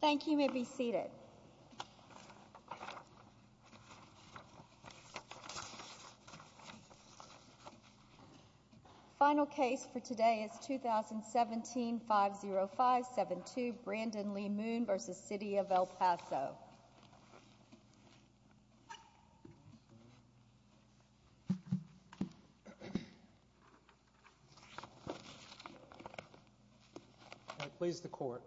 Thank you. You may be seated. Final case for today is 2017-50572 Brandon Lee Moon v. City of El Paso. May it please the Court.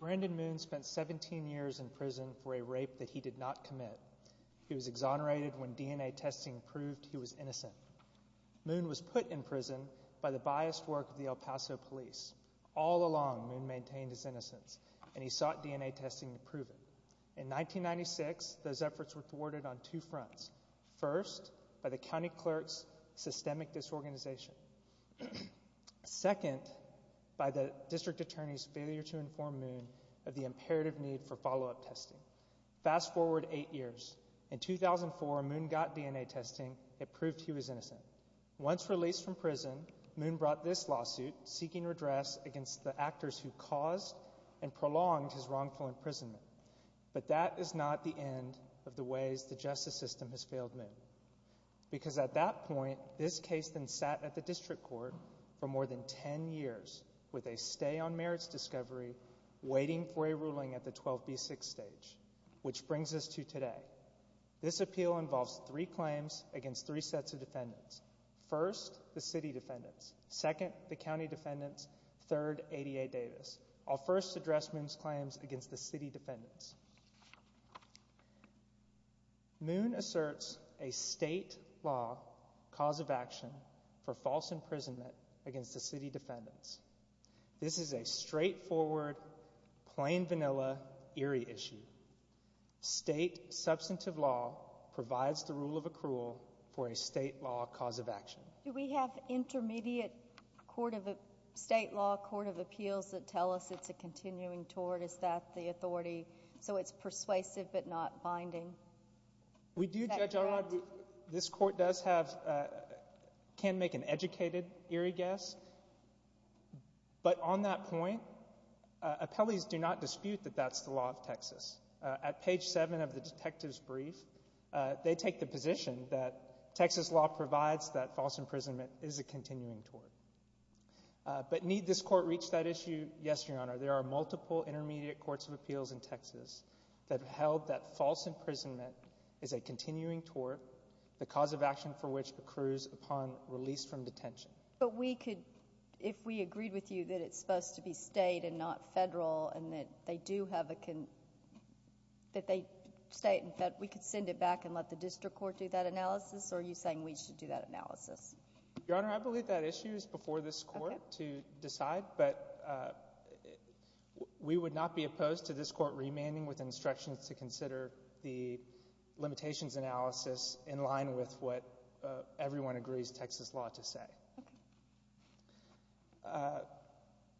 Brandon Moon spent 17 years in prison for a rape that he did not commit. He was exonerated when DNA testing proved he was innocent. Moon was put in prison by the biased work of the El Paso police. All along, Moon maintained his innocence, and he sought DNA testing to prove it. In 1996, those efforts were thwarted on two fronts. First, by the county clerk's systemic disorganization. Second, by the district attorney's failure to inform Moon of the imperative need for follow-up testing. Fast forward eight years. In 2004, Moon got DNA testing that proved he was innocent. Once released from prison, Moon brought this lawsuit seeking redress against the actors who caused and prolonged his wrongful imprisonment. But that is not the end of the ways the justice system has failed Moon. Because at that point, this case then sat at the district court for more than ten years with a stay-on-merits discovery waiting for a ruling at the 12b6 stage, which brings us to today. This appeal involves three claims against three sets of defendants. First, the city defendants. Second, the county defendants. Third, ADA Davis. I'll first address Moon's claims against the city defendants. Moon asserts a state law cause of action for false imprisonment against the city defendants. This is a straightforward, plain vanilla, eerie issue. State substantive law provides the rule of accrual for a state law cause of action. Do we have intermediate state law court of appeals that tell us it's a continuing tort? Is that the authority? So it's persuasive but not binding? We do, Judge Elrod. This court can make an educated, eerie guess. But on that point, appellees do not dispute that that's the law of Texas. At page 7 of the detective's brief, they take the position that Texas law provides that false imprisonment is a continuing tort. But need this court reach that issue? Yes, Your Honor. There are multiple intermediate courts of appeals in Texas that have held that false imprisonment is a continuing tort, the cause of action for which accrues upon release from detention. But we could – if we agreed with you that it's supposed to be state and not federal and that they do have a – that they – state and federal, we could send it back and let the district court do that analysis? Or are you saying we should do that analysis? Your Honor, I believe that issue is before this court to decide. But we would not be opposed to this court remanding with instructions to consider the limitations analysis in line with what everyone agrees Texas law to say.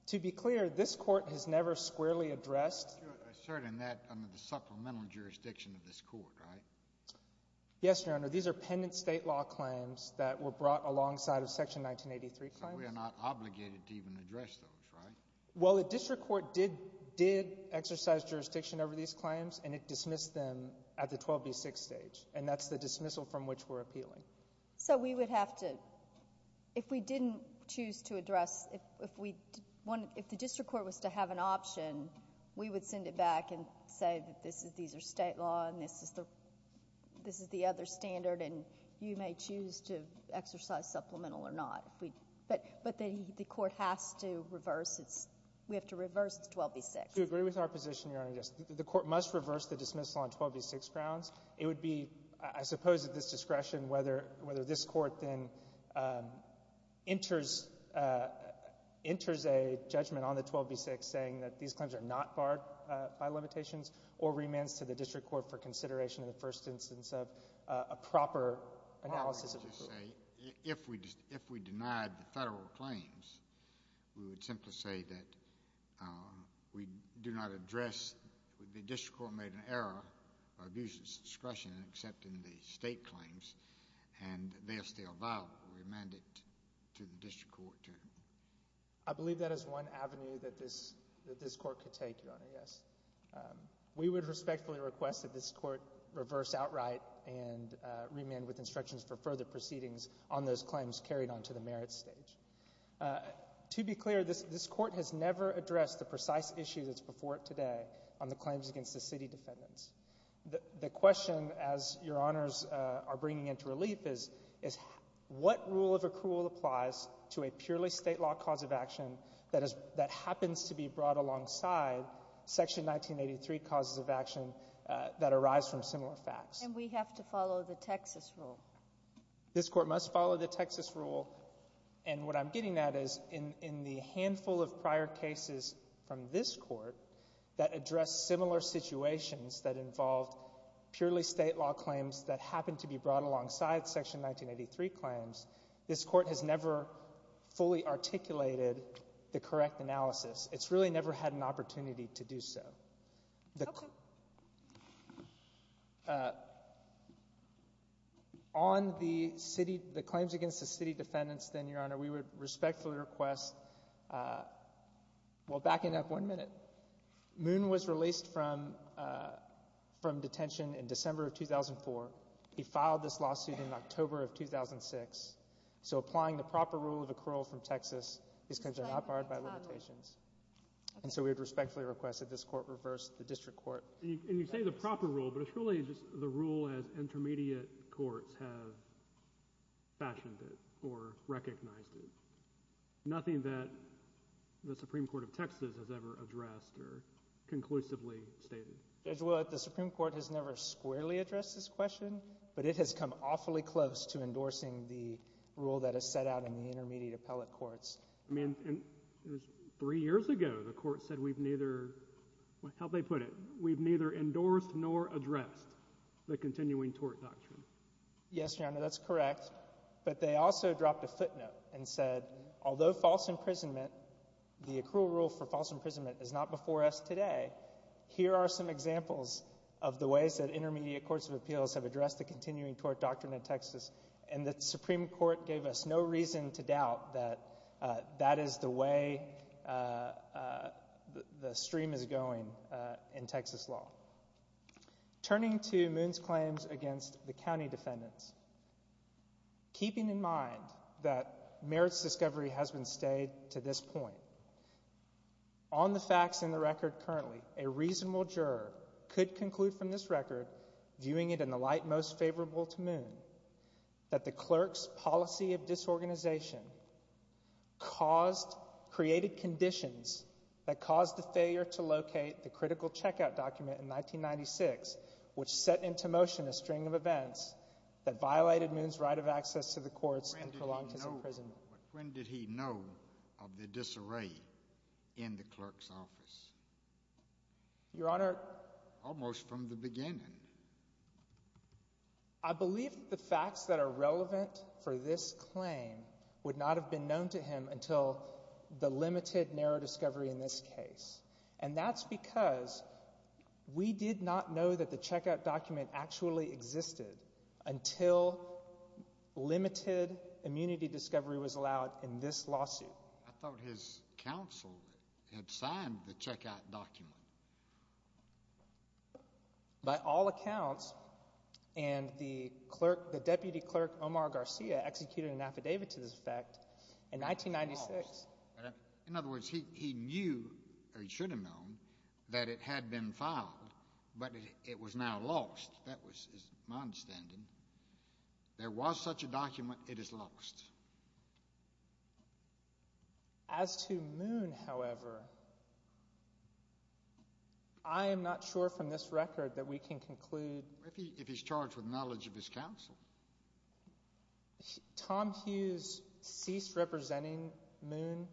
To be clear, this court has never squarely addressed – You're asserting that under the supplemental jurisdiction of this court, right? Yes, Your Honor. These are pendent state law claims that were brought alongside of Section 1983 claims. So we are not obligated to even address those, right? Well, the district court did exercise jurisdiction over these claims, and it dismissed them at the 12B6 stage. And that's the dismissal from which we're appealing. So we would have to – if we didn't choose to address – if the district court was to have an option, we would send it back and say that this is – these are state law and this is the other standard and you may choose to exercise supplemental or not. But the court has to reverse its – we have to reverse the 12B6. Do you agree with our position, Your Honor? Yes. The court must reverse the dismissal on 12B6 grounds. It would be, I suppose, at this discretion whether this court then enters a judgment on the 12B6 saying that these claims are not barred by limitations or remands to the district court for consideration in the first instance of a proper analysis of the rule. If we denied the federal claims, we would simply say that we do not address – or abuse its discretion in accepting the state claims and they're still viable, remanded to the district court. I believe that is one avenue that this court could take, Your Honor, yes. We would respectfully request that this court reverse outright and remand with instructions for further proceedings on those claims carried on to the merits stage. To be clear, this court has never addressed the precise issue that's before it today on the claims against the city defendants. The question, as Your Honors are bringing into relief, is what rule of accrual applies to a purely state law cause of action that happens to be brought alongside Section 1983 causes of action that arise from similar facts? And we have to follow the Texas rule. This court must follow the Texas rule, and what I'm getting at is in the handful of prior cases from this court that address similar situations that involve purely state law claims that happen to be brought alongside Section 1983 claims, this court has never fully articulated the correct analysis. It's really never had an opportunity to do so. Okay. On the claims against the city defendants, then, Your Honor, we would respectfully request—well, backing up one minute. Moon was released from detention in December of 2004. He filed this lawsuit in October of 2006. So applying the proper rule of accrual from Texas is considered not barred by limitations. And so we would respectfully request that this court reverse the district court. And you say the proper rule, but it's really just the rule as intermediate courts have fashioned it or recognized it, nothing that the Supreme Court of Texas has ever addressed or conclusively stated. Judge Willett, the Supreme Court has never squarely addressed this question, but it has come awfully close to endorsing the rule that is set out in the intermediate appellate courts. I mean, three years ago the court said we've neither—how'd they put it? We've neither endorsed nor addressed the continuing tort doctrine. Yes, Your Honor, that's correct. But they also dropped a footnote and said although false imprisonment, the accrual rule for false imprisonment is not before us today, here are some examples of the ways that intermediate courts of appeals have addressed the continuing tort doctrine in Texas. And the Supreme Court gave us no reason to doubt that that is the way the stream is going in Texas law. Turning to Moon's claims against the county defendants, keeping in mind that Merritt's discovery has been stayed to this point, on the facts in the record currently, a reasonable juror could conclude from this record, viewing it in the light most favorable to Moon, that the clerk's policy of disorganization caused— created conditions that caused the failure to locate the critical checkout document in 1996, which set into motion a string of events that violated Moon's right of access to the courts and prolonged his imprisonment. When did he know of the disarray in the clerk's office? Your Honor— Almost from the beginning. I believe the facts that are relevant for this claim would not have been known to him until the limited narrow discovery in this case. And that's because we did not know that the checkout document actually existed until limited immunity discovery was allowed in this lawsuit. I thought his counsel had signed the checkout document. By all accounts, and the clerk— the deputy clerk, Omar Garcia, executed an affidavit to this effect in 1996. In other words, he knew, or he should have known, that it had been filed, but it was now lost. That was my understanding. There was such a document. It is lost. As to Moon, however, I am not sure from this record that we can conclude— If he's charged with knowledge of his counsel. Tom Hughes ceased representing Moon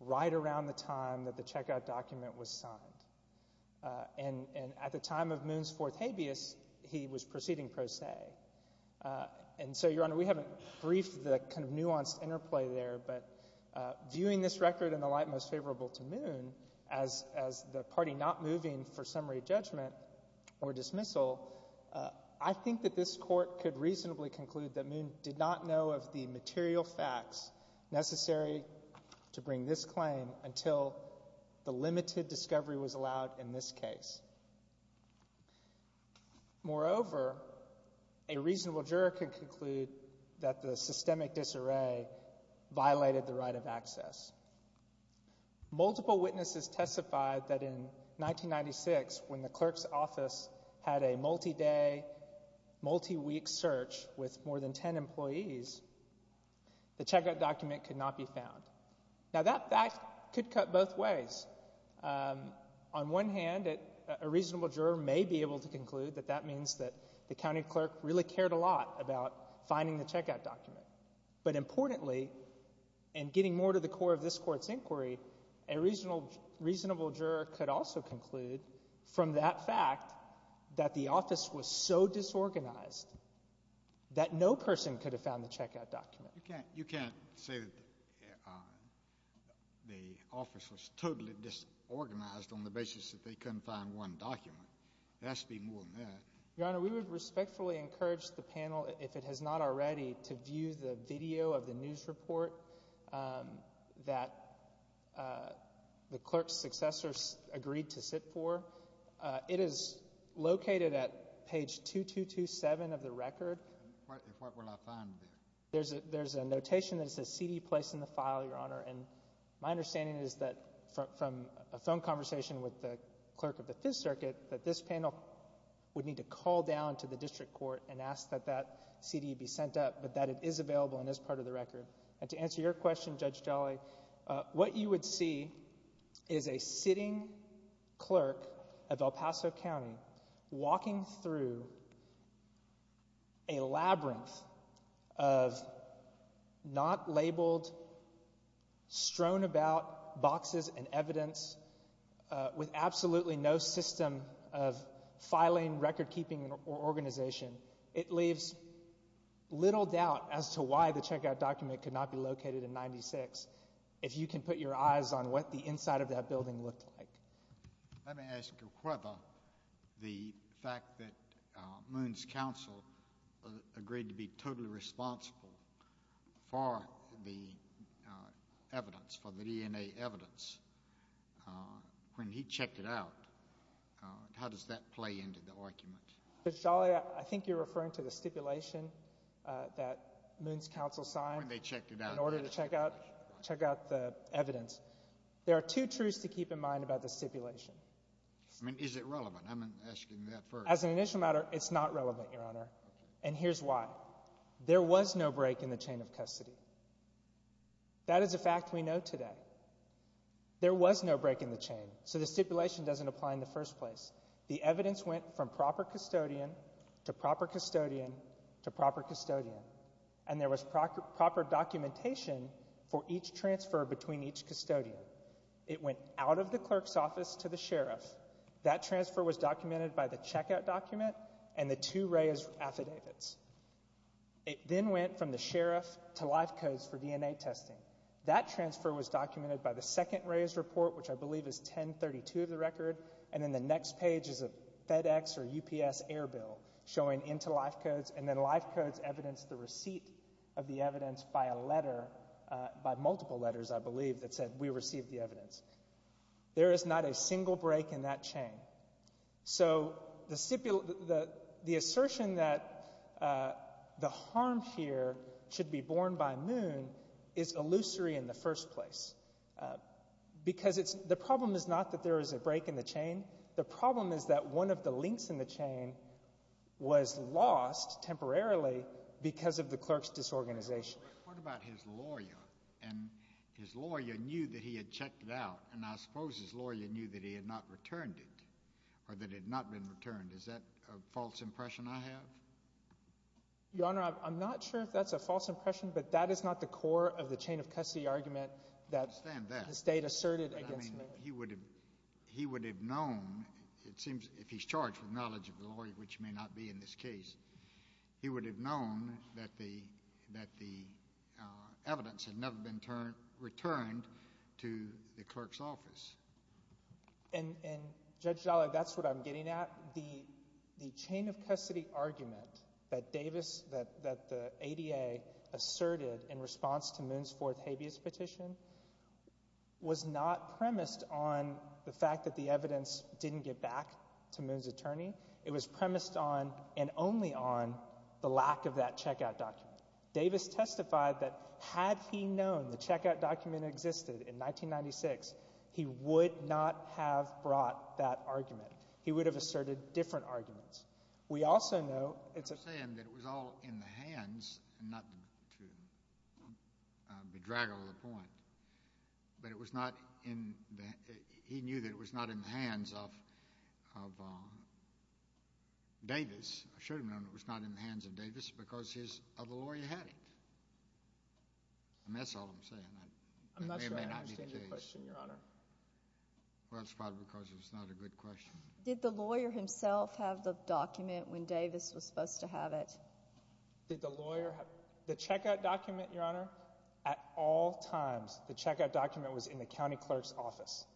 right around the time that the checkout document was signed. And at the time of Moon's fourth habeas, he was proceeding pro se. And so, Your Honor, we haven't briefed the kind of nuanced interplay there, but viewing this record in the light most favorable to Moon as the party not moving for summary judgment or dismissal, I think that this Court could reasonably conclude that Moon did not know of the material facts necessary to bring this claim until the limited discovery was allowed in this case. Moreover, a reasonable juror could conclude that the systemic disarray violated the right of access. Multiple witnesses testified that in 1996, when the clerk's office had a multi-day, multi-week search with more than ten employees, the checkout document could not be found. Now, that fact could cut both ways. On one hand, a reasonable juror may be able to conclude that that means that the county clerk really cared a lot about finding the checkout document. But importantly, and getting more to the core of this Court's inquiry, a reasonable juror could also conclude from that fact that the office was so disorganized that no person could have found the checkout document. You can't say that the office was totally disorganized on the basis that they couldn't find one document. There has to be more than that. Your Honor, we would respectfully encourage the panel, if it has not already, to view the video of the news report that the clerk's successors agreed to sit for. It is located at page 2227 of the record. What will I find there? There's a notation that says CD placed in the file, Your Honor, and my understanding is that from a phone conversation with the clerk of the Fifth Circuit, that this panel would need to call down to the district court and ask that that CD be sent up, but that it is available and is part of the record. And to answer your question, Judge Jolly, what you would see is a sitting clerk of El Paso County walking through a labyrinth of not labeled, strewn about boxes and evidence with absolutely no system of filing, record keeping, or organization. It leaves little doubt as to why the checkout document could not be located in 96 if you can put your eyes on what the inside of that building looked like. Let me ask you whether the fact that Moon's counsel agreed to be totally responsible for the evidence, for the DNA evidence, when he checked it out, how does that play into the argument? Judge Jolly, I think you're referring to the stipulation that Moon's counsel signed in order to check out the evidence. There are two truths to keep in mind about the stipulation. I mean, is it relevant? I'm asking that first. As an initial matter, it's not relevant, Your Honor. And here's why. There was no break in the chain of custody. That is a fact we know today. There was no break in the chain, so the stipulation doesn't apply in the first place. The evidence went from proper custodian to proper custodian to proper custodian, and there was proper documentation for each transfer between each custodian. It went out of the clerk's office to the sheriff. That transfer was documented by the checkout document and the two Reyes affidavits. It then went from the sheriff to LifeCodes for DNA testing. That transfer was documented by the second Reyes report, which I believe is 1032 of the record, and then the next page is a FedEx or UPS airbill showing into LifeCodes, and then LifeCodes evidenced the receipt of the evidence by a letter, by multiple letters, I believe, that said, we received the evidence. There is not a single break in that chain. So the stipulation... The assertion that the harm here should be borne by Moon is illusory in the first place, because the problem is not that there is a break in the chain. The problem is that one of the links in the chain was lost temporarily because of the clerk's disorganization. What about his lawyer? And his lawyer knew that he had checked it out, and I suppose his lawyer knew that he had not returned it or that it had not been returned. Is that a false impression I have? Your Honor, I'm not sure if that's a false impression, but that is not the core of the chain-of-custody argument that the State asserted against Moon. He would have known, it seems, if he's charged with knowledge of the lawyer, which may not be in this case, he would have known that the evidence had never been returned to the clerk's office. And, Judge Dollard, that's what I'm getting at. The chain-of-custody argument that Davis... that the ADA asserted in response to Moon's fourth habeas petition was not premised on the fact that the evidence didn't get back to Moon's attorney. It was premised on, and only on, the lack of that checkout document. Davis testified that had he known the checkout document existed in 1996, he would not have brought that argument. He would have asserted different arguments. We also know... I'm saying that it was all in the hands, and not to bedraggle the point, but it was not in the... Davis... I should have known it was not in the hands of Davis because his other lawyer had it. And that's all I'm saying. It may or may not be the case. I'm not sure I understand your question, Your Honor. Well, it's probably because it's not a good question. Did the lawyer himself have the document when Davis was supposed to have it? Did the lawyer have... The checkout document, Your Honor, at all times, the checkout document was in the county clerk's office.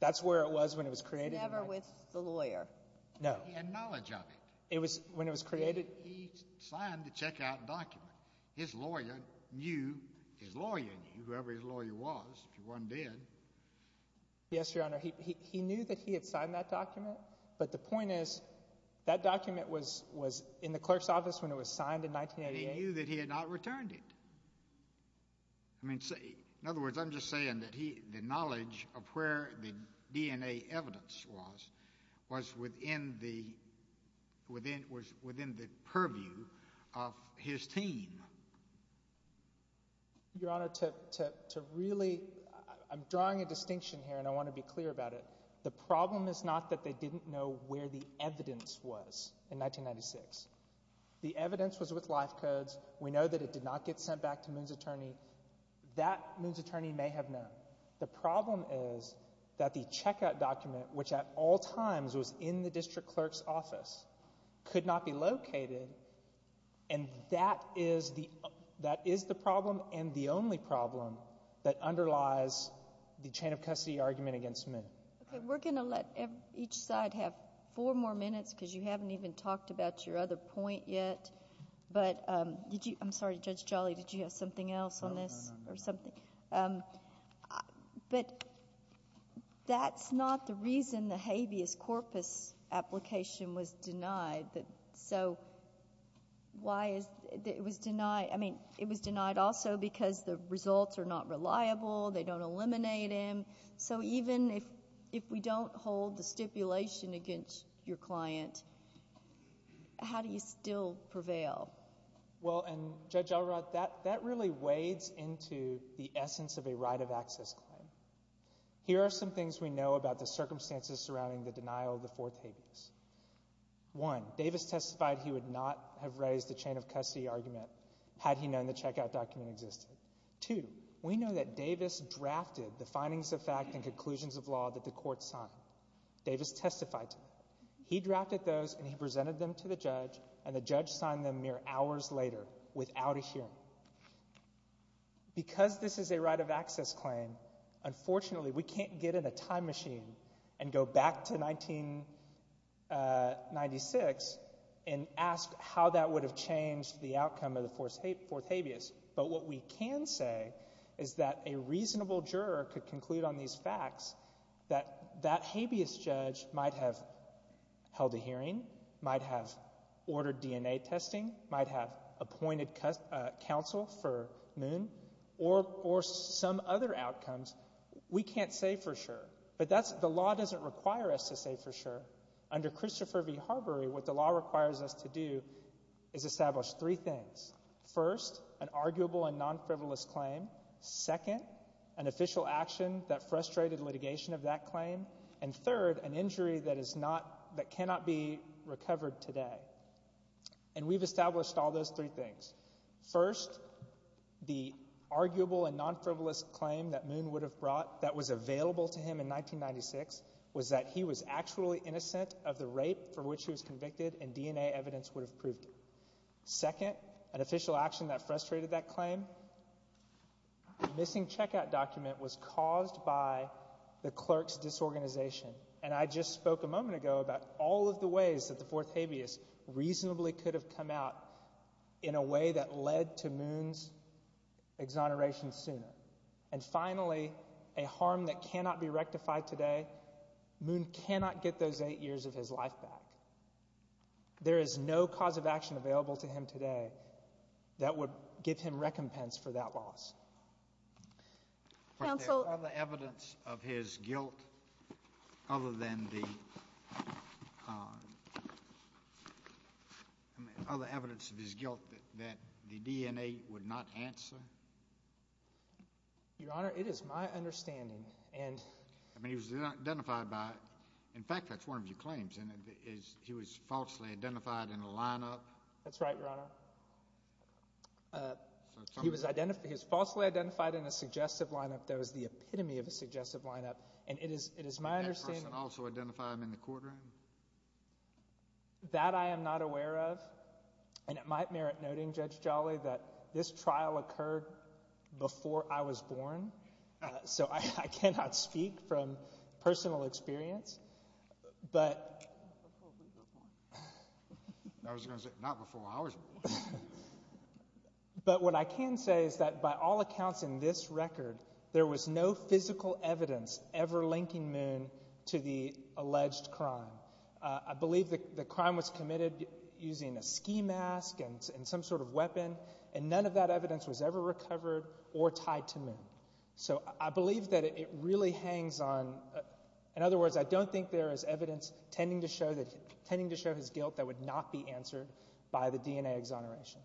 That's where it was when it was created. It was never with the lawyer. No. He had knowledge of it. When it was created... He signed the checkout document. His lawyer knew, his lawyer knew, whoever his lawyer was, if you weren't dead. Yes, Your Honor. He knew that he had signed that document, but the point is that document was in the clerk's office when it was signed in 1988. He knew that he had not returned it. I mean, in other words, I'm just saying that the knowledge of where the DNA evidence was was within the... was within the purview of his team. Your Honor, to really... I'm drawing a distinction here, and I want to be clear about it. The problem is not that they didn't know where the evidence was in 1996. The evidence was with life codes. We know that it did not get sent back to Moon's attorney. That Moon's attorney may have known. The problem is that the checkout document, which at all times was in the district clerk's office, could not be located, and that is the... that is the problem and the only problem that underlies the chain of custody argument against Moon. Okay, we're going to let each side have four more minutes, because you haven't even talked about your other point yet. But did you... I'm sorry, Judge Jolly, did you have something else on this? Or something? But that's not the reason the habeas corpus application was denied. So, why is... It was denied, I mean, it was denied also because the results are not reliable, they don't eliminate him. So even if we don't hold the stipulation against your client, how do you still prevail? Well, and Judge Elrod, that really wades into the essence of a right of access claim. Here are some things we know about the circumstances surrounding the denial of the fourth habeas. One, Davis testified he would not have raised the chain of custody argument had he known the checkout document existed. Two, we know that Davis drafted the findings of fact and conclusions of law that the court signed. Davis testified to that. He drafted those and he presented them to the judge, and the judge signed them mere hours later without a hearing. Because this is a right of access claim, unfortunately, we can't get in a time machine and go back to 1996 and ask how that would have changed the outcome of the fourth habeas. But what we can say is that a reasonable juror could conclude on these facts that that habeas judge might have held a hearing, might have ordered DNA testing, might have appointed counsel for Moon, or some other outcomes. We can't say for sure. But the law doesn't require us to say for sure. Under Christopher v. Harbury, what the law requires us to do is establish three things. First, an arguable and non-frivolous claim. Second, an official action that frustrated litigation of that claim. And third, an injury that cannot be recovered today. And we've established all those three things. First, the arguable and non-frivolous claim that Moon would have brought that was available to him in 1996 was that he was actually innocent of the rape for which he was convicted and DNA evidence would have proved it. Second, an official action that frustrated that claim. The missing checkout document was caused by the clerk's disorganization. And I just spoke a moment ago about all of the ways that the fourth habeas reasonably could have come out in a way that led to Moon's exoneration sooner. And finally, a harm that cannot be rectified today, Moon cannot get those eight years of his life back. There is no cause of action available to him today that would give him recompense for that loss. But there's other evidence of his guilt other than the other evidence of his guilt that the DNA would not answer? Your Honor, it is my understanding and I mean he was identified by in fact that's one of your claims he was falsely identified in a lineup That's right, Your Honor. He was falsely identified in a suggestive lineup. And it is my understanding Did that person also identify him in the courtroom? That I am not aware of. And it might merit noting, Judge Jolly, that this trial occurred before I was born. So I cannot speak from personal experience. But I was going to say not before I was born. But what I can say is that by all accounts in this record there was no physical evidence ever linking Moon to the alleged crime. I believe the crime was committed using a ski mask and some sort of weapon and none of that evidence was ever recovered or tied to Moon. So I believe that it really hangs on in other words, I don't think there is evidence tending to show his guilt that would not be answered by the DNA exoneration.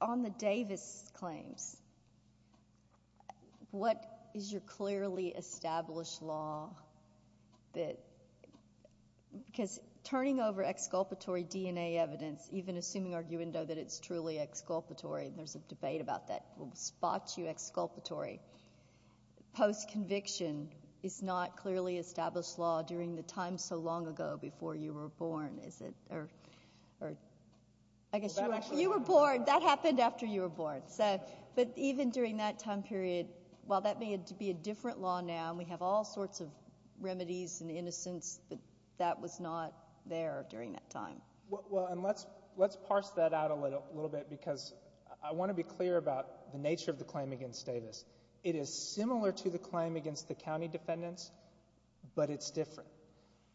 On the Davis claims what is your clearly established law that because turning over exculpatory DNA evidence even assuming, arguendo, that it is truly exculpatory, and there is a debate about that will spot you exculpatory post conviction is not clearly established law during the time so long ago before you were born, is it? Or I guess you were born, that happened after you were born. But even during that time period while that may be a different law now we have all sorts of remedies and innocence that was not there during that time. Let's parse that out a little bit because I want to be clear about the nature of the claim against Davis. It is similar to the claim against the county defendants but it's different.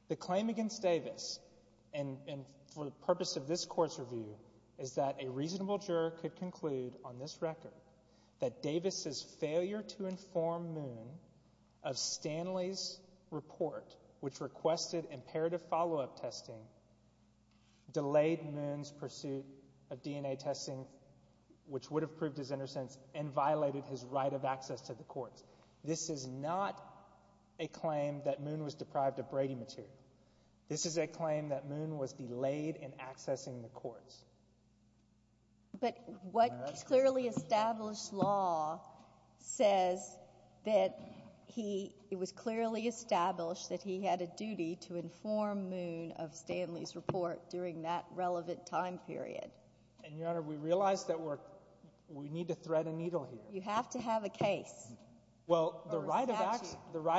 The claim against Davis and for the purpose of this court's review is that a reasonable juror could conclude on this record that Davis' failure to inform Moon of Stanley's report which requested imperative follow-up testing delayed Moon's pursuit of DNA testing which would have proved his innocence and violated his right of access to the courts. This is not a claim that Moon was deprived of Brady material. This is a claim that Moon was delayed in accessing the courts. But what clearly established law says that it was clearly established that he had a duty to inform Moon of Stanley's report during that relevant time period. And Your Honor, we realize that we need to thread a needle here. You have to have a case. Well, the right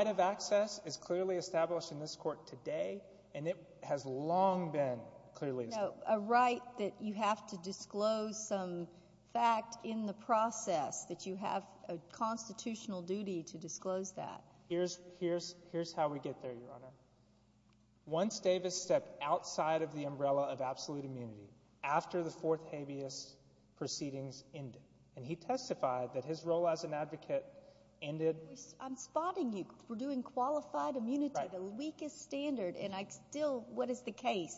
of access is clearly established in this court today and it has long been clearly established. So a right that you have to disclose some fact in the process that you have a constitutional duty to disclose that. Here's how we get there, Your Honor. Once Davis stepped outside of the umbrella of absolute immunity after the fourth habeas proceedings ended, and he testified that his role as an advocate ended. I'm spotting you. We're doing qualified immunity, the weakest standard, and I still What is the case?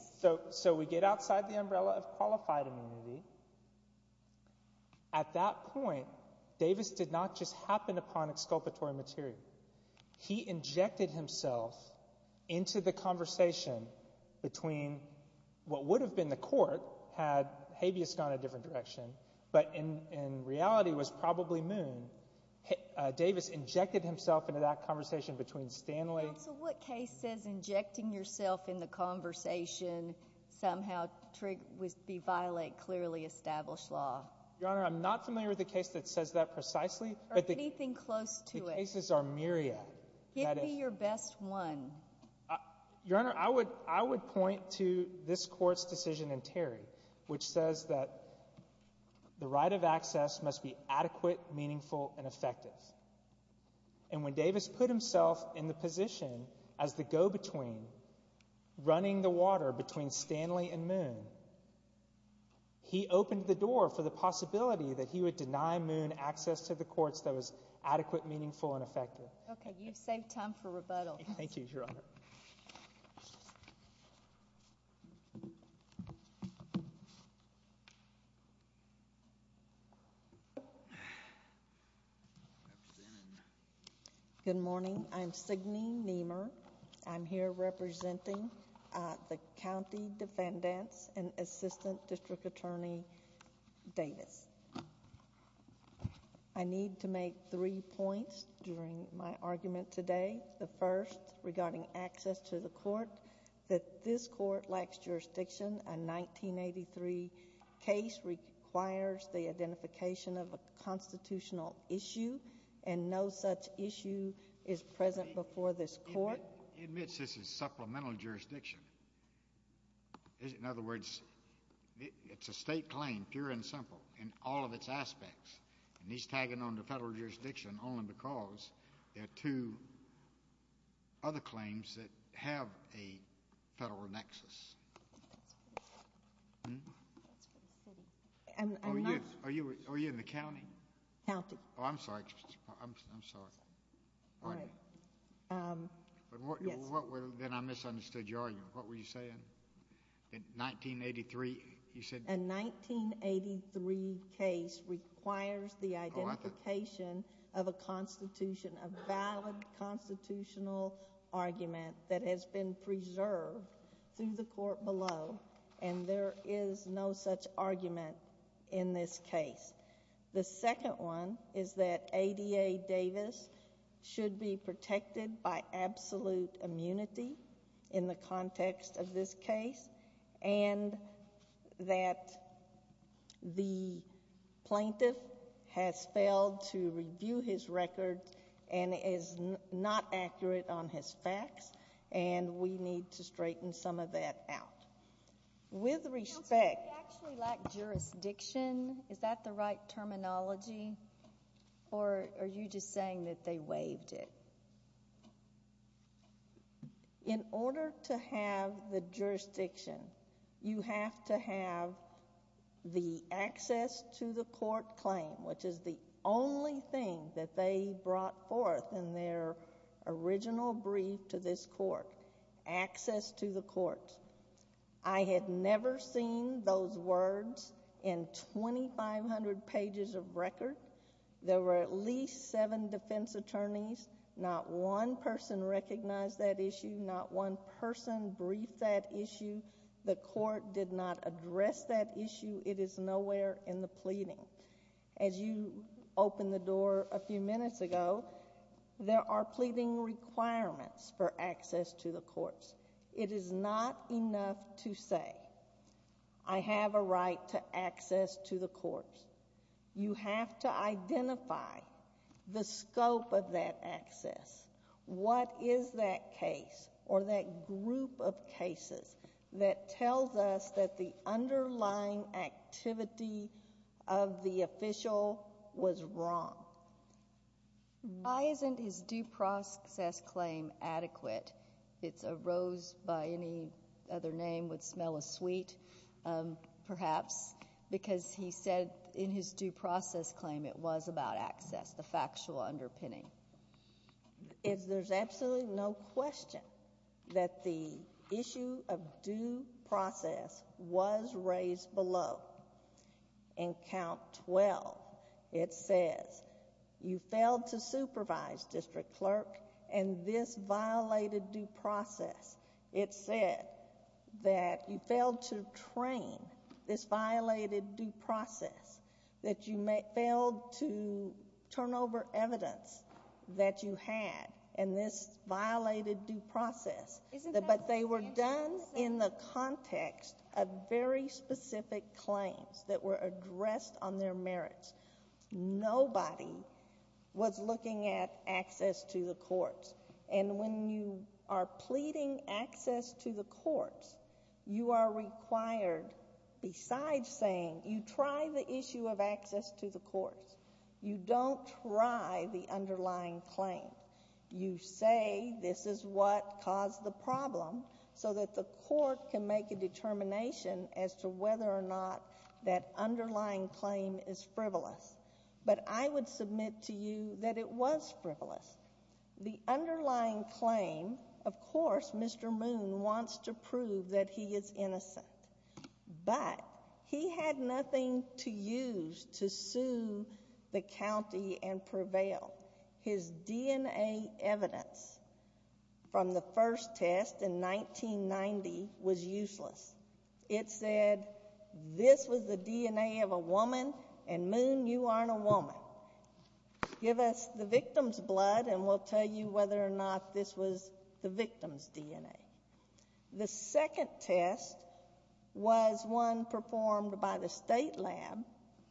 So we get outside the umbrella of qualified immunity. At that point, Davis did not just happen upon exculpatory material. He injected himself into the conversation between what would have been the court had habeas gone a different direction, but in reality was probably Moon. Davis injected himself into that conversation between Stanley... Counsel, what case says injecting yourself in the conversation somehow was be violate clearly established law? Your Honor, I'm not familiar with the case that says that precisely. Anything close to it. The cases are myriad. Give me your best one. Your Honor, I would point to this court's decision in Terry which says that the right of access must be adequate, meaningful, and effective. And when Davis put himself in the position as the go-between running the water between Stanley and Moon, he opened the door for the possibility that he would deny Moon access to the courts that was adequate, meaningful, and effective. Okay, you've saved time for rebuttal. Thank you, Your Honor. Thank you, Your Honor. Good morning. I'm Signe Niemeyer. I'm here representing the county defendants and assistant district attorney Davis. I need to make three points during my access to the court that this court lacks jurisdiction. A 1983 case requires the identification of a constitutional issue, and no such issue is present before this court. He admits this is supplemental jurisdiction. In other words, it's a state claim, pure and simple, in all of its aspects. And he's tagging on to federal jurisdiction only because there are two other claims that have a federal nexus. Are you in the county? County. Oh, I'm sorry. I'm sorry. All right. Then I misunderstood your argument. What were you saying? That 1983, you said? A 1983 case requires the identification of a valid constitutional argument that has been preserved through the court below, and there is no such argument in this case. The second one is that ADA Davis should be protected by absolute immunity in the context of this case, and that the plaintiff has failed to review his record and is not accurate on his facts, and we need to straighten some of that out. With respect... Counsel, we actually lack jurisdiction. Is that the right terminology, or are you just saying that they waived it? In order to have the jurisdiction, you have to have the access to the court claim, which is the only thing that they brought forth in their original brief to this court. Access to the court. I had never seen those words in 2,500 pages of record. There were at least seven defense attorneys. Not one person recognized that issue. Not one person briefed that issue. The court did not address that issue. It is nowhere in the pleading. As you opened the door a few minutes ago, there are pleading requirements for access to the courts. It is not enough to say, I have a right to access to the courts. You have to identify the scope of that access. What is that case or that group of cases that tells us that the underlying activity of the official was wrong? Why isn't his due process claim adequate? It's a rose by any other name would smell as sweet, perhaps, because he said in his due process claim it was about access, the factual underpinning. There's absolutely no question that the issue of due process was raised below. In count 12, it says you failed to supervise District Clerk, and this violated due process. It said that you failed to train this violated due process, that you failed to turn over evidence that you had, and this violated due process. But they were done in the context of very specific claims that were addressed on their merits. Nobody was looking at access to the courts, and when you are pleading access to the courts, you are required, besides saying, you try the issue of access to the courts. You don't try the underlying claim. You say this is what caused the problem, so that the court can make a determination as to whether or not that underlying claim is frivolous, but I would submit to you that it was frivolous. The underlying claim, of course, Mr. Moon wants to prove that he is innocent, but he had nothing to use to sue the county and prevail. His DNA evidence from the first test in 1990 was useless. It said, this was the DNA of a woman, and Moon, you aren't a woman. Give us the victim's blood, and we'll tell you whether or not this was the victim's DNA. The second test was one performed by the state lab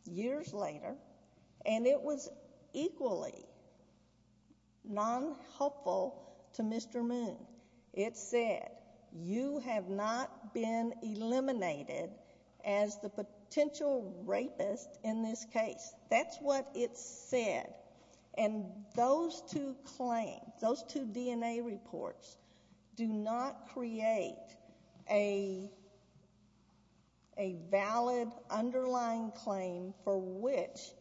years later, and it was equally non-helpful to Mr. Moon. It said, you have not been eliminated as the potential rapist in this case. That's what it said, and those two claims, those two DNA reports do not create a valid underlying claim for which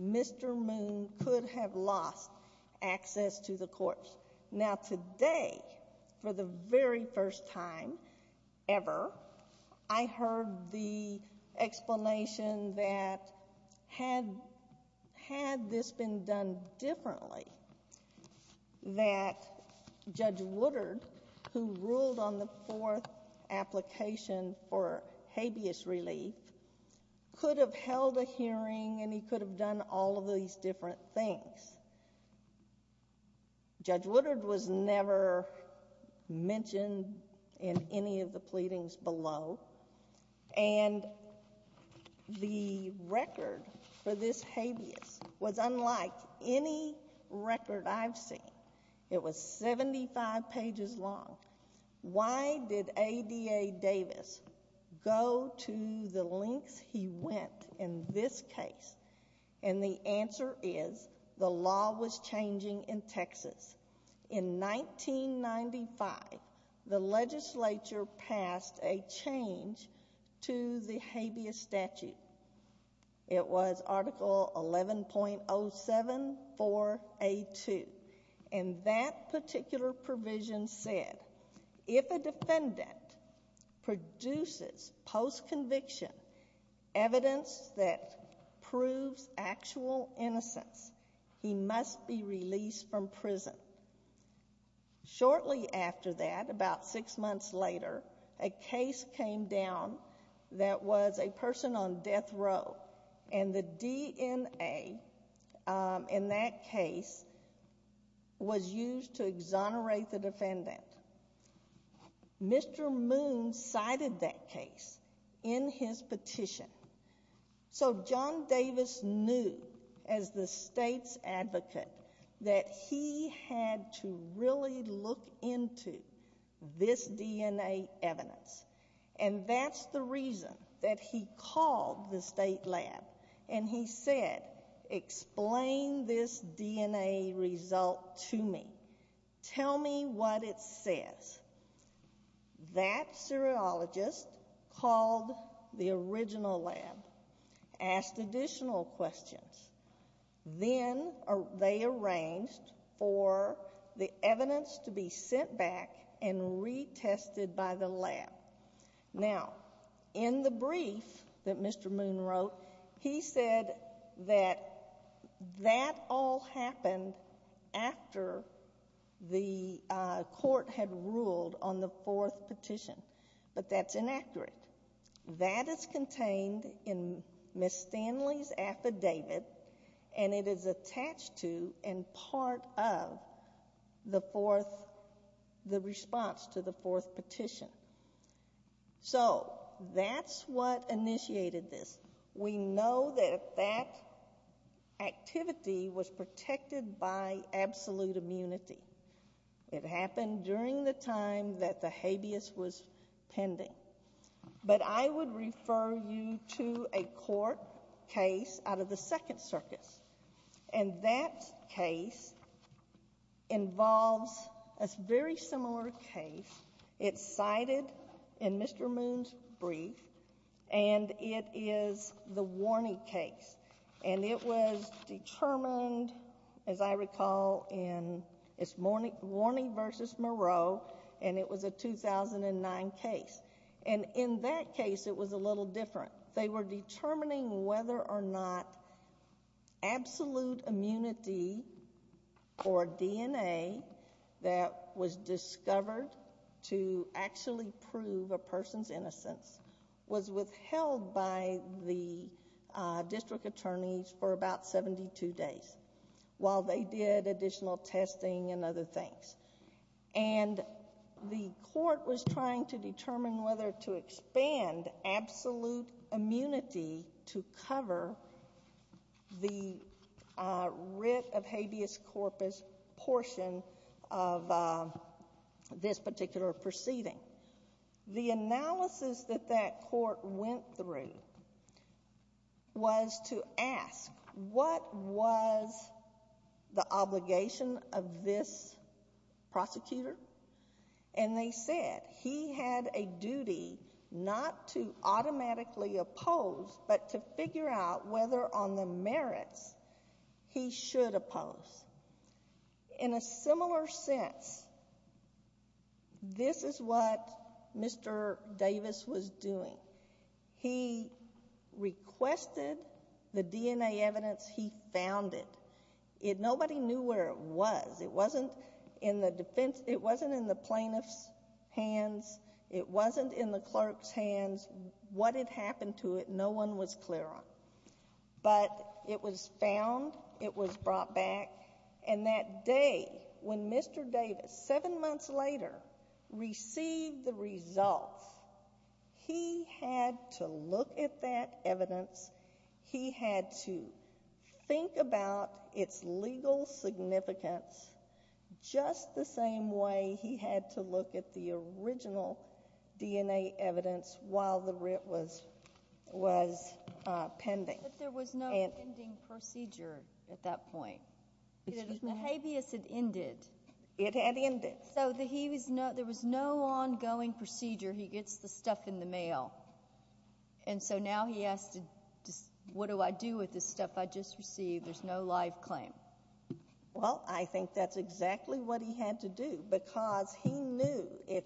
Mr. Moon could have lost access to the corpse. Now today, for the very first time ever, I heard the explanation that had this been done differently, that Judge Woodard, who ruled on the fourth application for habeas relief, could have held a hearing and he could have done all of these different things. Judge Woodard was never mentioned in any of the pleadings below, and the record for this habeas was unlike any record I've seen. It was 75 pages long. Why did ADA Davis go to the lengths he went in this case? And the answer is the law was changing in Texas. In 1995, the legislature passed a change to the habeas statute. It was article 11.07 4A2, and that particular provision said, if a defendant produces post-conviction evidence that proves actual innocence, he must be released from prison. Shortly after that, about six months later, a case came down that was a person on death row, and the DNA in that case was used to exonerate the defendant. Mr. Moon cited that case in his petition, so John Davis knew as the state's advocate that he had to really look into this DNA evidence, and that's the reason that he called the state lab, and he said, explain this DNA result to me. Tell me what it says. That seriologist called the original lab, asked additional questions. Then they arranged for the evidence to be sent back and retested by the lab. Now, in the brief that presented, he said that that all happened after the court had ruled on the fourth petition, but that's inaccurate. That is contained in Ms. Stanley's affidavit, and it is attached to and part of the response to the fourth petition. So, that's what initiated this. We know that that activity was protected by absolute immunity. It happened during the time that the habeas was pending, but I would refer you to a court case out of the Second Circus, and that case involves a very similar case. It's cited in Mr. Moon's brief, and it is the Warney case, and it was determined, as I recall, in Warney v. Moreau, and it was a 2009 case, and in that case, it was a little different. They were determining whether or not absolute immunity or DNA that was discovered to actually prove a person's innocence was withheld by the district attorneys for about 72 days while they did additional testing and other things, and the court was trying to determine whether to expand absolute immunity to cover the writ of habeas corpus portion of this particular proceeding. The analysis that that court went through was to ask what was the obligation of this prosecutor, and they said he had a duty not to automatically oppose, but to figure out whether on the merits he should oppose. In a similar sense, this is what Mr. Davis was doing. He requested the DNA evidence he found it. Nobody knew where it was. It wasn't in the plaintiff's hands. It wasn't in the clerk's hands. What had happened to it, no one was clear on, but it was found. It was brought back, and that day when Mr. Davis, seven months later, received the results, he had to look at that evidence. He had to think about its legal significance just the same way he had to look at the original DNA evidence while the writ was pending. But there was no ending procedure at that point. The habeas had ended. It had ended. There was no ongoing procedure. He gets the stuff in the mail, and so now he asked, what do I do with this stuff I just received? There's no life claim. Well, I think that's exactly what he had to do, because he knew if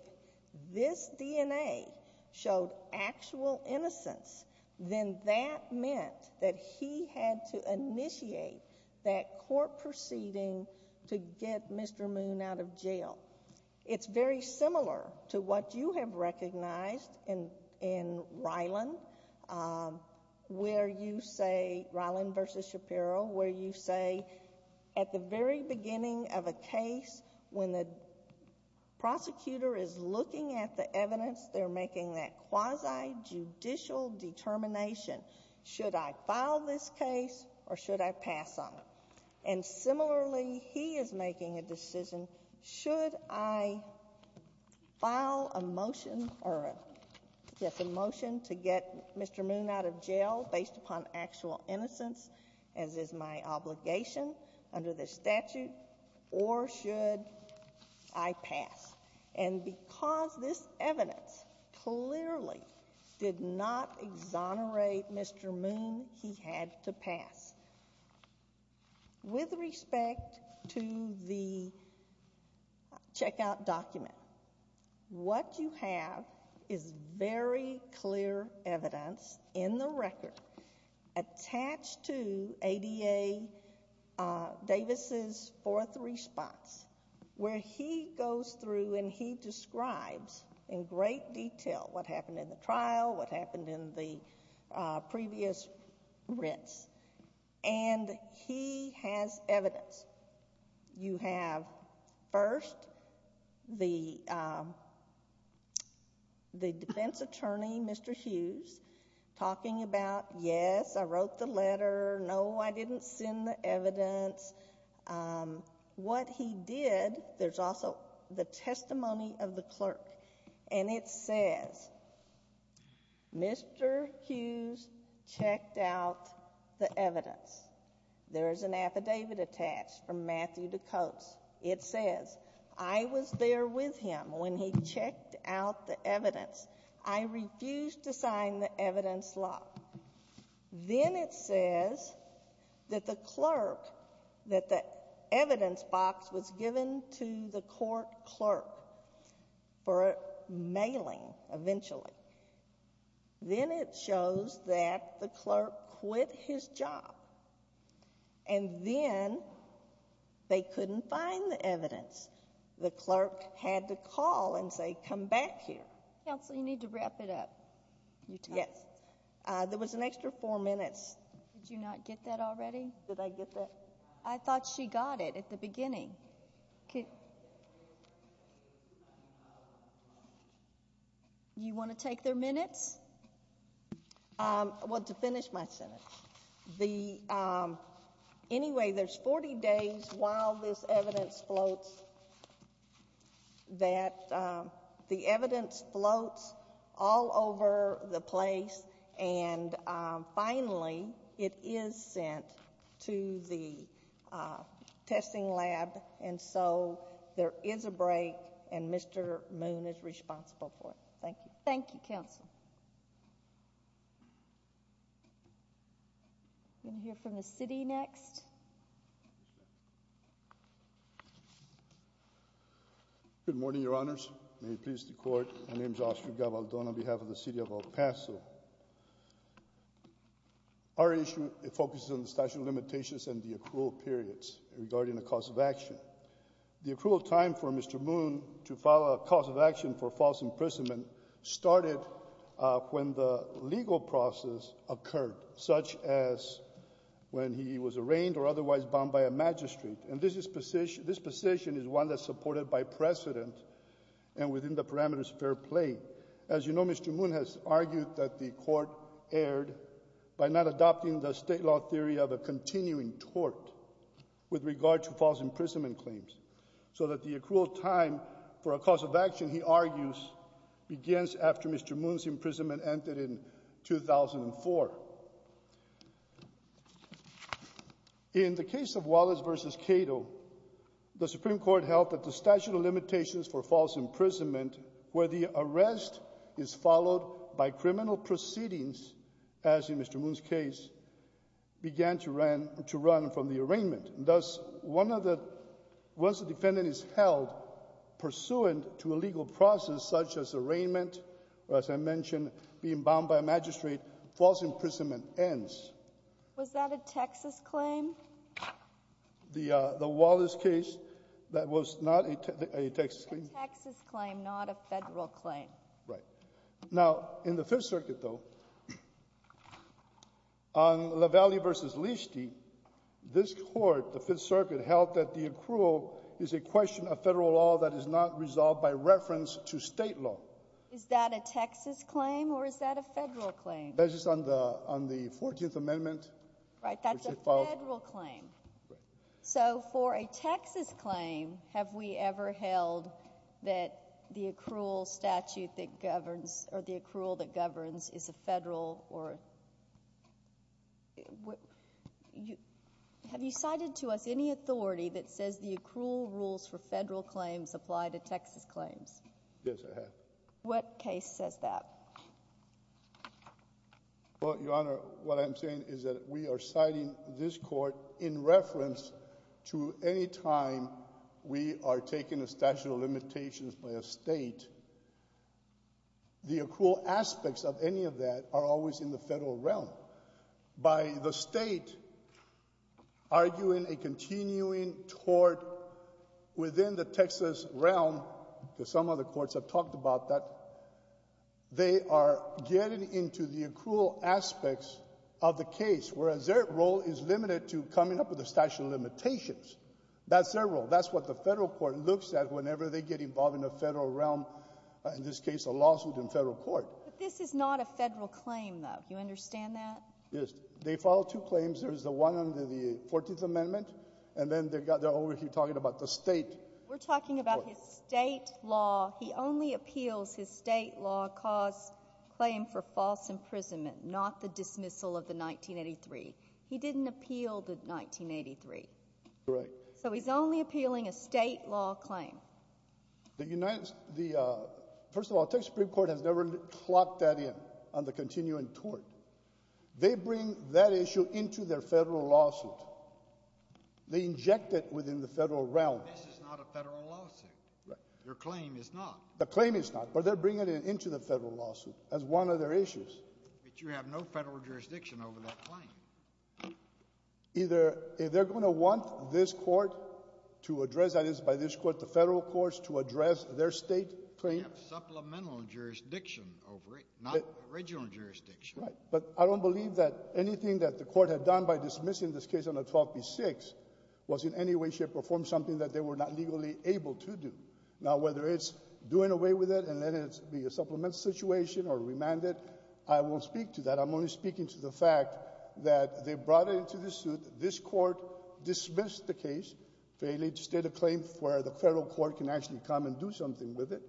this DNA showed actual innocence, then that meant that he had to initiate that court proceeding to get Mr. Moon out of jail. It's very similar to what you have recognized in Ryland, where you say, Ryland v. Shapiro, where you say, at the very beginning of a case, when the prosecutor is looking at the evidence, they're making that quasi judicial determination. Should I file this case or should I pass on it? And similarly, he is making a decision, should I file a motion to get Mr. Moon out of jail based upon actual innocence, as is my obligation under this statute, should I pass. And because this evidence clearly did not exonerate Mr. Moon, he had to pass. With respect to the checkout document, what you have is very clear evidence in the record attached to ADA Davis' fourth response, where he goes through and he describes in great detail what happened in the trial, what happened in the previous rents. And he has evidence. You have, first, the defense attorney, Mr. Hughes, talking about, yes, I didn't send the evidence. What he did, there's also the testimony of the clerk, and it says, Mr. Hughes checked out the evidence. There is an affidavit attached from Matthew DeCoats. It says, I was there with him when he checked out the evidence. I refused to sign the evidence law. Then it says that the clerk, that the evidence box was given to the court clerk for mailing, eventually. Then it shows that the clerk quit his job. And then they couldn't find the evidence. The clerk had to call and say, come back here. Counsel, you need to wrap it up. Yes. There was an extra four minutes. Did you not get that already? I thought she got it at the beginning. You want to take their minutes? Well, to finish my sentence. Anyway, there's 40 days while this evidence floats that the clerk is responsible for the place. Finally, it is sent to the testing lab. There is a break. Mr. Moon is responsible for it. Thank you. Thank you, counsel. We're going to hear from the city next. Thank you, counsel. Our issue focuses on the statute of limitations and the accrual periods regarding the cause of action. The accrual time for Mr. Moon to file a cause of action for false imprisonment started when the legal process occurred, such as when he was arraigned or otherwise bound by a magistrate. This position is one that's supported by precedent and within the parameters fair play. As you know, Mr. Moon has argued that the court erred by not adopting the state law theory of a continuing tort with regard to false imprisonment claims so that the accrual time for a cause of action, he argues, begins after Mr. Moon's imprisonment ended in 2004. In the case of Wallace v. Cato, the Supreme Court held that the statute of limitations for false imprisonment, where the arrest is followed by criminal proceedings, as in Mr. Moon's case, began to run from the arraignment. Thus, once the defendant is held pursuant to a legal process such as arraignment or, as I mentioned, being bound by a magistrate, false imprisonment ends. Was that a Texas claim? The Wallace case, that was not a Texas claim. A Texas claim, not a Federal claim. Right. Now, in the Fifth Circuit, though, on LaValle v. Leasty, this Court, the Fifth Circuit, held that the accrual is a question of Federal law that is not resolved by reference to State law. Is that a Texas claim or is that a Federal claim? That's just on the 14th Amendment. Right, that's a Federal claim. So, for a Texas claim, have we ever held that the accrual statute that governs, or the accrual that governs, is a Federal or... Have you cited to us any authority that says the accrual rules for Federal claims apply to Texas claims? Yes, I have. What case says that? Well, Your Honor, what I'm saying is that we are citing this Court in reference to any time we are taking a statute of limitations by a State. The accrual aspects of any of that are always in the Federal realm. By the State arguing a continuing tort within the Texas realm, because some other courts have talked about that, they are getting into the accrual aspects of the case, whereas their role is limited to coming up with a statute of limitations. That's their role. That's what the Federal court looks at whenever they get involved in the Federal realm, in this case, a lawsuit in Federal court. But this is not a Federal claim, though. Do you understand that? They file two claims. There's the one under the 14th Amendment, and then they're over here talking about the State. We're talking about his State law. He only appeals his State law cause claim for dismissal of the 1983. He didn't appeal the 1983. Correct. So he's only appealing a State law claim. First of all, the Texas Supreme Court has never clocked that in on the continuing tort. They bring that issue into their Federal lawsuit. They inject it within the Federal realm. This is not a Federal lawsuit. Your claim is not. But they're bringing it into the Federal lawsuit as one of their issues. But you have no Federal jurisdiction over that claim. Either they're going to want this court to address, that is, by this court, the Federal courts to address their State claim. You have supplemental jurisdiction over it, not original jurisdiction. Right. But I don't believe that anything that the court had done by dismissing this case under 12b-6 was in any way, shape, or form something that they were not legally able to do. Now, whether it's doing away with it and letting it be a supplemental situation or remanded, I won't speak to that. I'm only speaking to the fact that they brought it into the suit. This court dismissed the case, failed to state a claim where the Federal court can actually come and do something with it.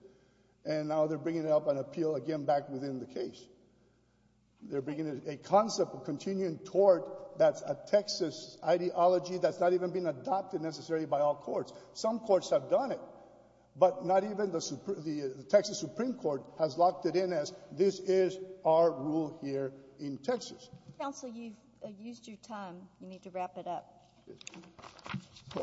And now they're bringing it up and appeal again back within the case. They're bringing a concept of continuing tort that's a Texas ideology that's not even been adopted necessarily by all courts. Some courts have done it. But not even the Texas Supreme Court has locked it in as this is our rule here in Texas. Counsel, you've used your time. You need to wrap it up.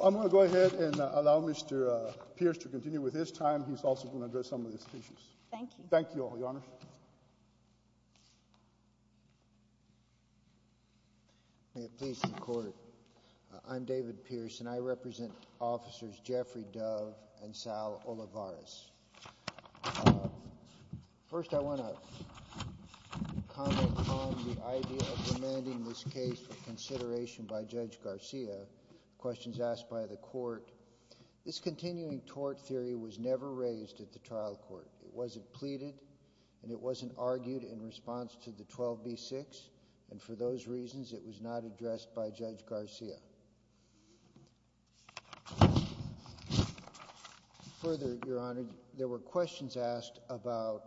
I'm going to go ahead and allow Mr. Pierce to continue with his time. He's also going to address some of these issues. Thank you. Thank you, Your Honor. May it please the Court. I'm David Pierce, and I represent officers Jeffrey Dove and Sal Olivares. First, I want to comment on the idea of demanding this case for consideration by Judge Garcia. Questions asked by the court. This continuing tort theory was never raised at the trial court. It wasn't pleaded, and it wasn't argued in response to the 12B6. And for those reasons, it was not addressed by Judge Garcia. Further, Your Honor, there were questions asked about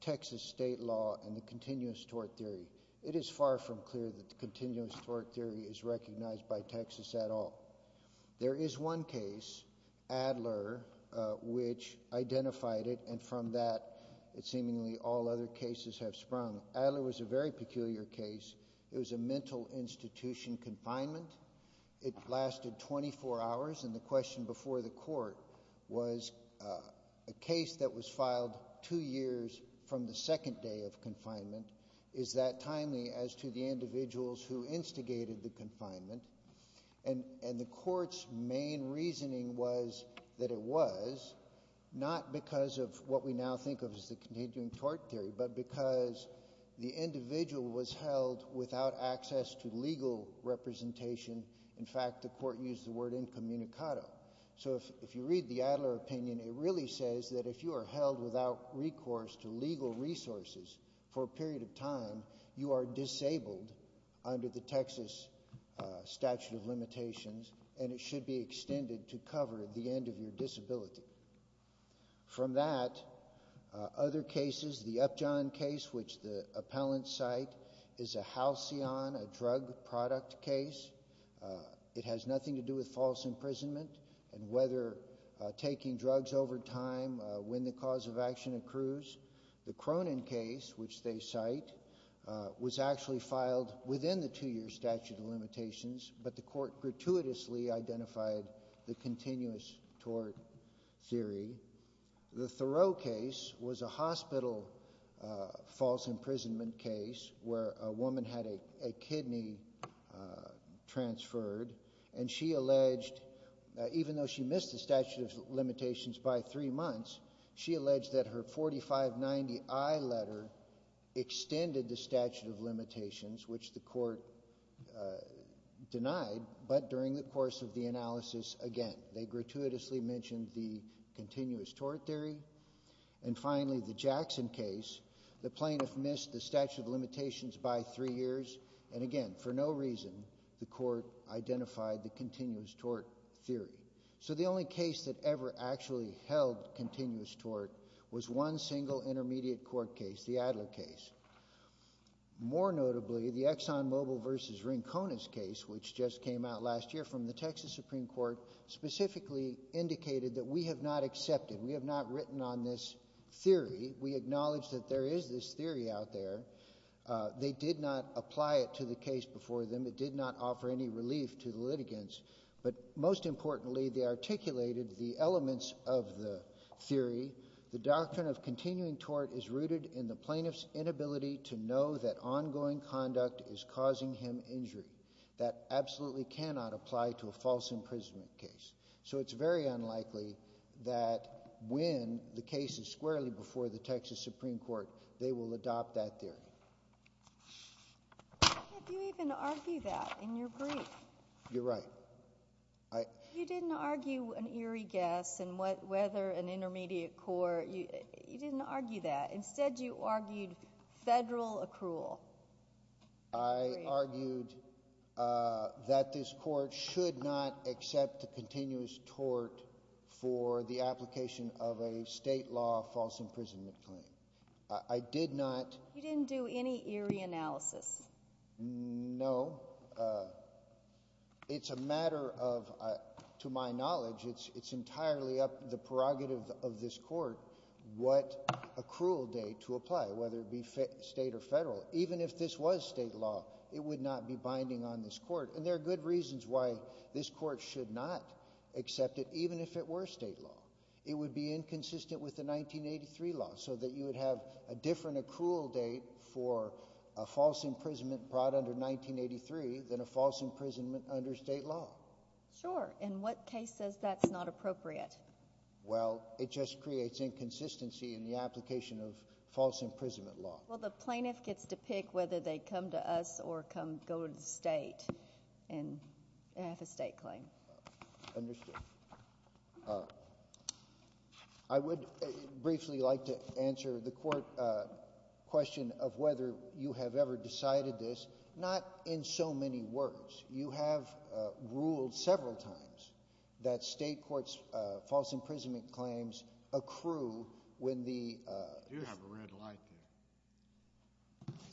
Texas state law and the continuous tort theory. It is far from clear that the continuous tort theory is recognized by Texas at all. There is one case, Adler, which identified it, and from that, seemingly all other cases have sprung. Adler was a very peculiar case. It was a mental institution confinement. It lasted 24 hours, and the question before the court was a case that was filed two years from the second day of confinement. Is that timely as to the individuals who instigated the confinement? The court's main reasoning was that it was not because of what we now think of as the continuing tort theory, but because the individual was held without access to legal representation. In fact, the court used the word incommunicado. So if you read the Adler opinion, it really says that if you are held without recourse to legal resources for a period of time, you are disabled under the Texas statute of limitations, and it should be extended to cover the end of your disability. From that, other cases, the Upjohn case, which the appellant's site is a halcyon, a it has nothing to do with false imprisonment and whether taking drugs over time when the cause of action accrues. The Cronin case, which they cite, was actually filed within the two-year statute of limitations, but the court gratuitously identified the continuous tort theory. The Thoreau case was a hospital false imprisonment case where a woman had a child transferred, and she alleged, even though she missed the statute of limitations by three months, she alleged that her 4590I letter extended the statute of limitations, which the court denied, but during the course of the analysis again, they gratuitously mentioned the continuous tort theory. And finally, the Jackson case, the plaintiff missed the statute of limitations by three years, and again, for no reason, the court identified the continuous tort theory. So the only case that ever actually held continuous tort was one single intermediate court case, the Adler case. More notably, the ExxonMobil versus Rincones case, which just came out last year from the Texas Supreme Court, specifically indicated that we have not accepted, we have not written on this theory. We acknowledge that there is this theory out there. They did not apply it to the case before them. It did not offer any relief to the litigants, but most importantly, they articulated the elements of the theory. The doctrine of continuing tort is rooted in the plaintiff's inability to know that ongoing conduct is causing him injury. That absolutely cannot apply to a false imprisonment case. So it's very unlikely that when the case is squarely before the Texas Supreme Court, they will adopt that theory. Have you even argued that in your brief? You're right. You didn't argue an eerie guess and whether an intermediate court, you didn't argue that. Instead, you argued federal accrual. I argued that this court should not accept the continuous tort for the application of a state law false imprisonment claim. I did not... You didn't do any eerie analysis. No. It's a matter of to my knowledge, it's entirely up to the prerogative of this court what accrual date to apply, whether it be state or federal. Even if this was state law, it would not be binding on this court. And there are good reasons why this court should not accept it, even if it were state law. It would be inconsistent with the 1983 law, so that you would have a different accrual date for a false imprisonment brought under 1983 than a false imprisonment under state law. Sure. In what case says that's not appropriate? Well, it just creates inconsistency in the application of false imprisonment law. Well, the plaintiff gets to pick whether they come to us or go to the state and have a state claim. Understood. I would briefly like to answer the court question of whether you have ever decided this. Not in so many words. You have ruled several times that state courts' false imprisonment claims accrue when the You have a red light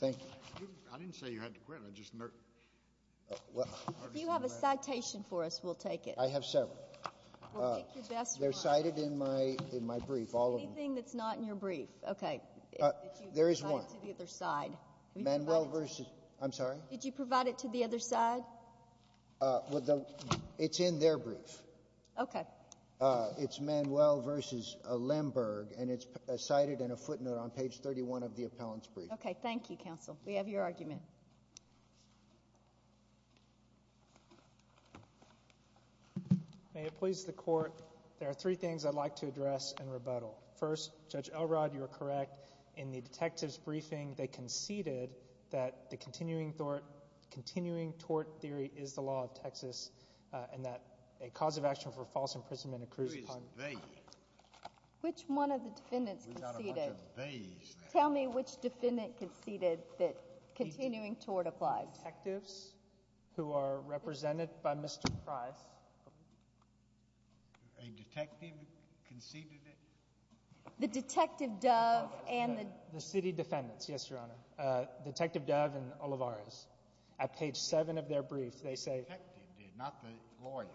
there. Thank you. I didn't say you had to quit. I just You have a I have several. They're cited in my brief. Anything that's not in your brief? There is one. Manuel versus I'm sorry? Did you provide it to the other side? It's in their brief. It's Manuel versus Lemberg, and it's cited in a footnote on page 31 of the appellant's brief. Thank you, counsel. We have your argument. May it please the court, there are three things I'd like to address in rebuttal. First, Judge Elrod, you are correct. In the detective's briefing, they conceded that the continuing tort theory is the law of Texas and that a cause of action for false imprisonment accrues upon Which one of the defendants conceded? Tell me which defendant conceded that continuing tort applies. Detectives who are A detective conceded it? The detective, Dove, and the city defendants. Yes, Your Honor. Detective Dove and Olivares. At page 7 of their brief, they say Not the lawyers.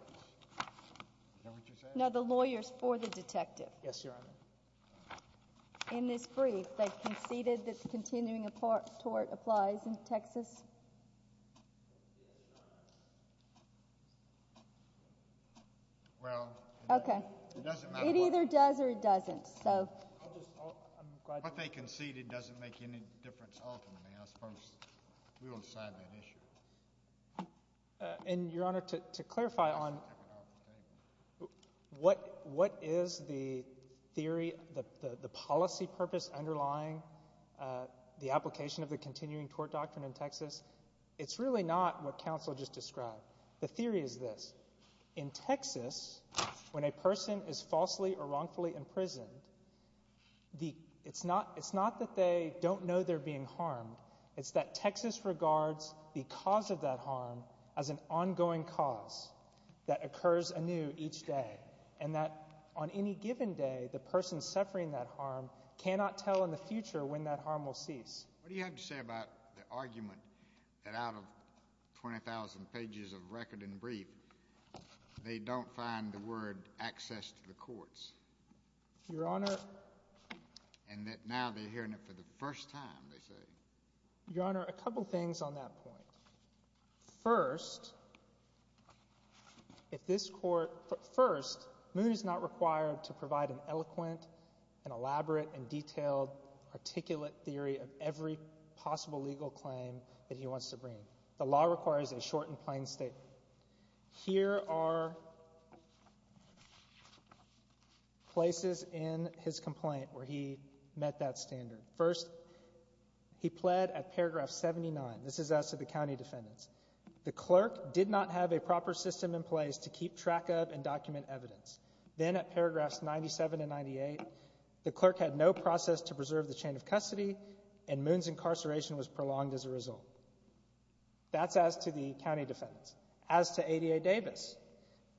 Know what you're saying? No, the lawyers for the detective. Yes, Your Honor. In this brief, they conceded that continuing tort applies in Texas. Well, it doesn't matter. It either does or it doesn't. What they conceded doesn't make any difference ultimately. I suppose we will decide that issue. And Your Honor, to clarify on what is the theory, the policy purpose underlying the application of the continuing tort doctrine in Texas, it's really not what counsel just described. The theory is this. In Texas, when a person is falsely or wrongfully imprisoned, it's not that they don't know they're being harmed. It's that Texas regards the cause of that harm as an ongoing cause that occurs anew each day and that on any given day, the person suffering that harm cannot tell in the future when that harm will cease. What do you have to say about the argument that out of 20,000 pages of record and brief, they don't find the word access to the courts? Your Honor— And that now they're hearing it for the first time, they say. Your Honor, a couple things on that point. First, if this court—first, Moody's not required to provide an eloquent and elaborate and detailed articulate theory of every possible legal claim that he wants to bring. The law requires a short and plain statement. Here are places in his complaint where he met that standard. First, he pled at paragraph 79. This is as to the county defendants. The clerk did not have a proper system in place to keep track of and document evidence. Then at paragraphs 97 and 98, the clerk had no process to preserve the chain of custody, and Moon's incarceration was prolonged as a result. That's as to the county defendants. As to ADA Davis,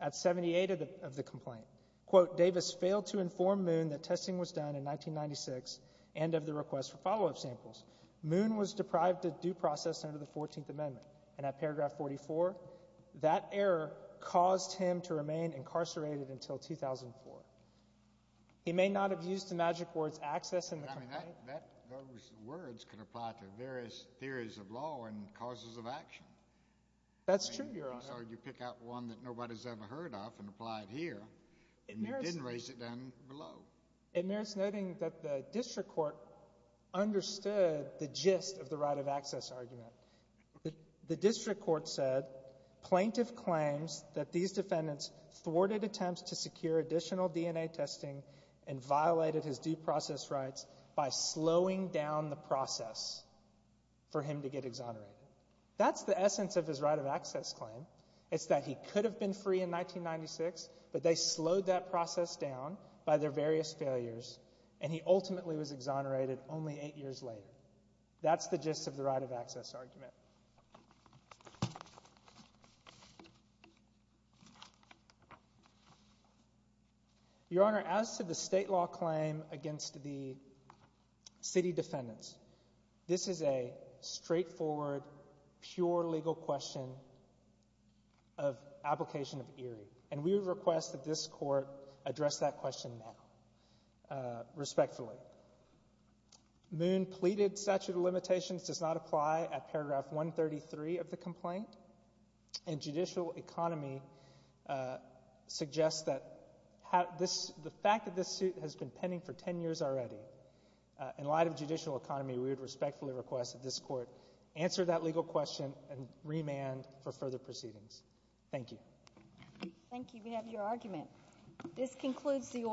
at 78 of the complaint, quote, Davis failed to inform Moon that testing was done in 1996 and of the request for follow-up samples. Moon was deprived of due process under the 14th Amendment, and at paragraph 44, that error caused him to remain incarcerated until 2004. He may not have used the magic words access in the complaint. Those words could apply to various theories of law and causes of action. That's true, Your Honor. So you pick out one that nobody's ever heard of and apply it here, and you didn't raise it down below. It merits noting that the district court understood the gist of the right of access argument. The district court said plaintiff claims that these defendants thwarted attempts to secure additional DNA testing and violated his due process rights by slowing down the process for him to get exonerated. That's the essence of his right of access claim. It's that he could have been free in 1996, but they slowed that process down by their various failures, and he ultimately was exonerated only eight years later. That's the gist of the right of access argument. Thank you, Your Honor. Your Honor, as to the state law claim against the city defendants, this is a straightforward, pure legal question of application of Erie, and we would request that this court address that question now respectfully. Moon pleaded statute of limitations does not apply at paragraph 133 of the complaint, and judicial economy suggests that the fact that this suit has been pending for 10 years already, in light of judicial economy, we would respectfully request that this court answer that legal question and remand for further proceedings. Thank you. Thank you. We have your argument. This concludes the oral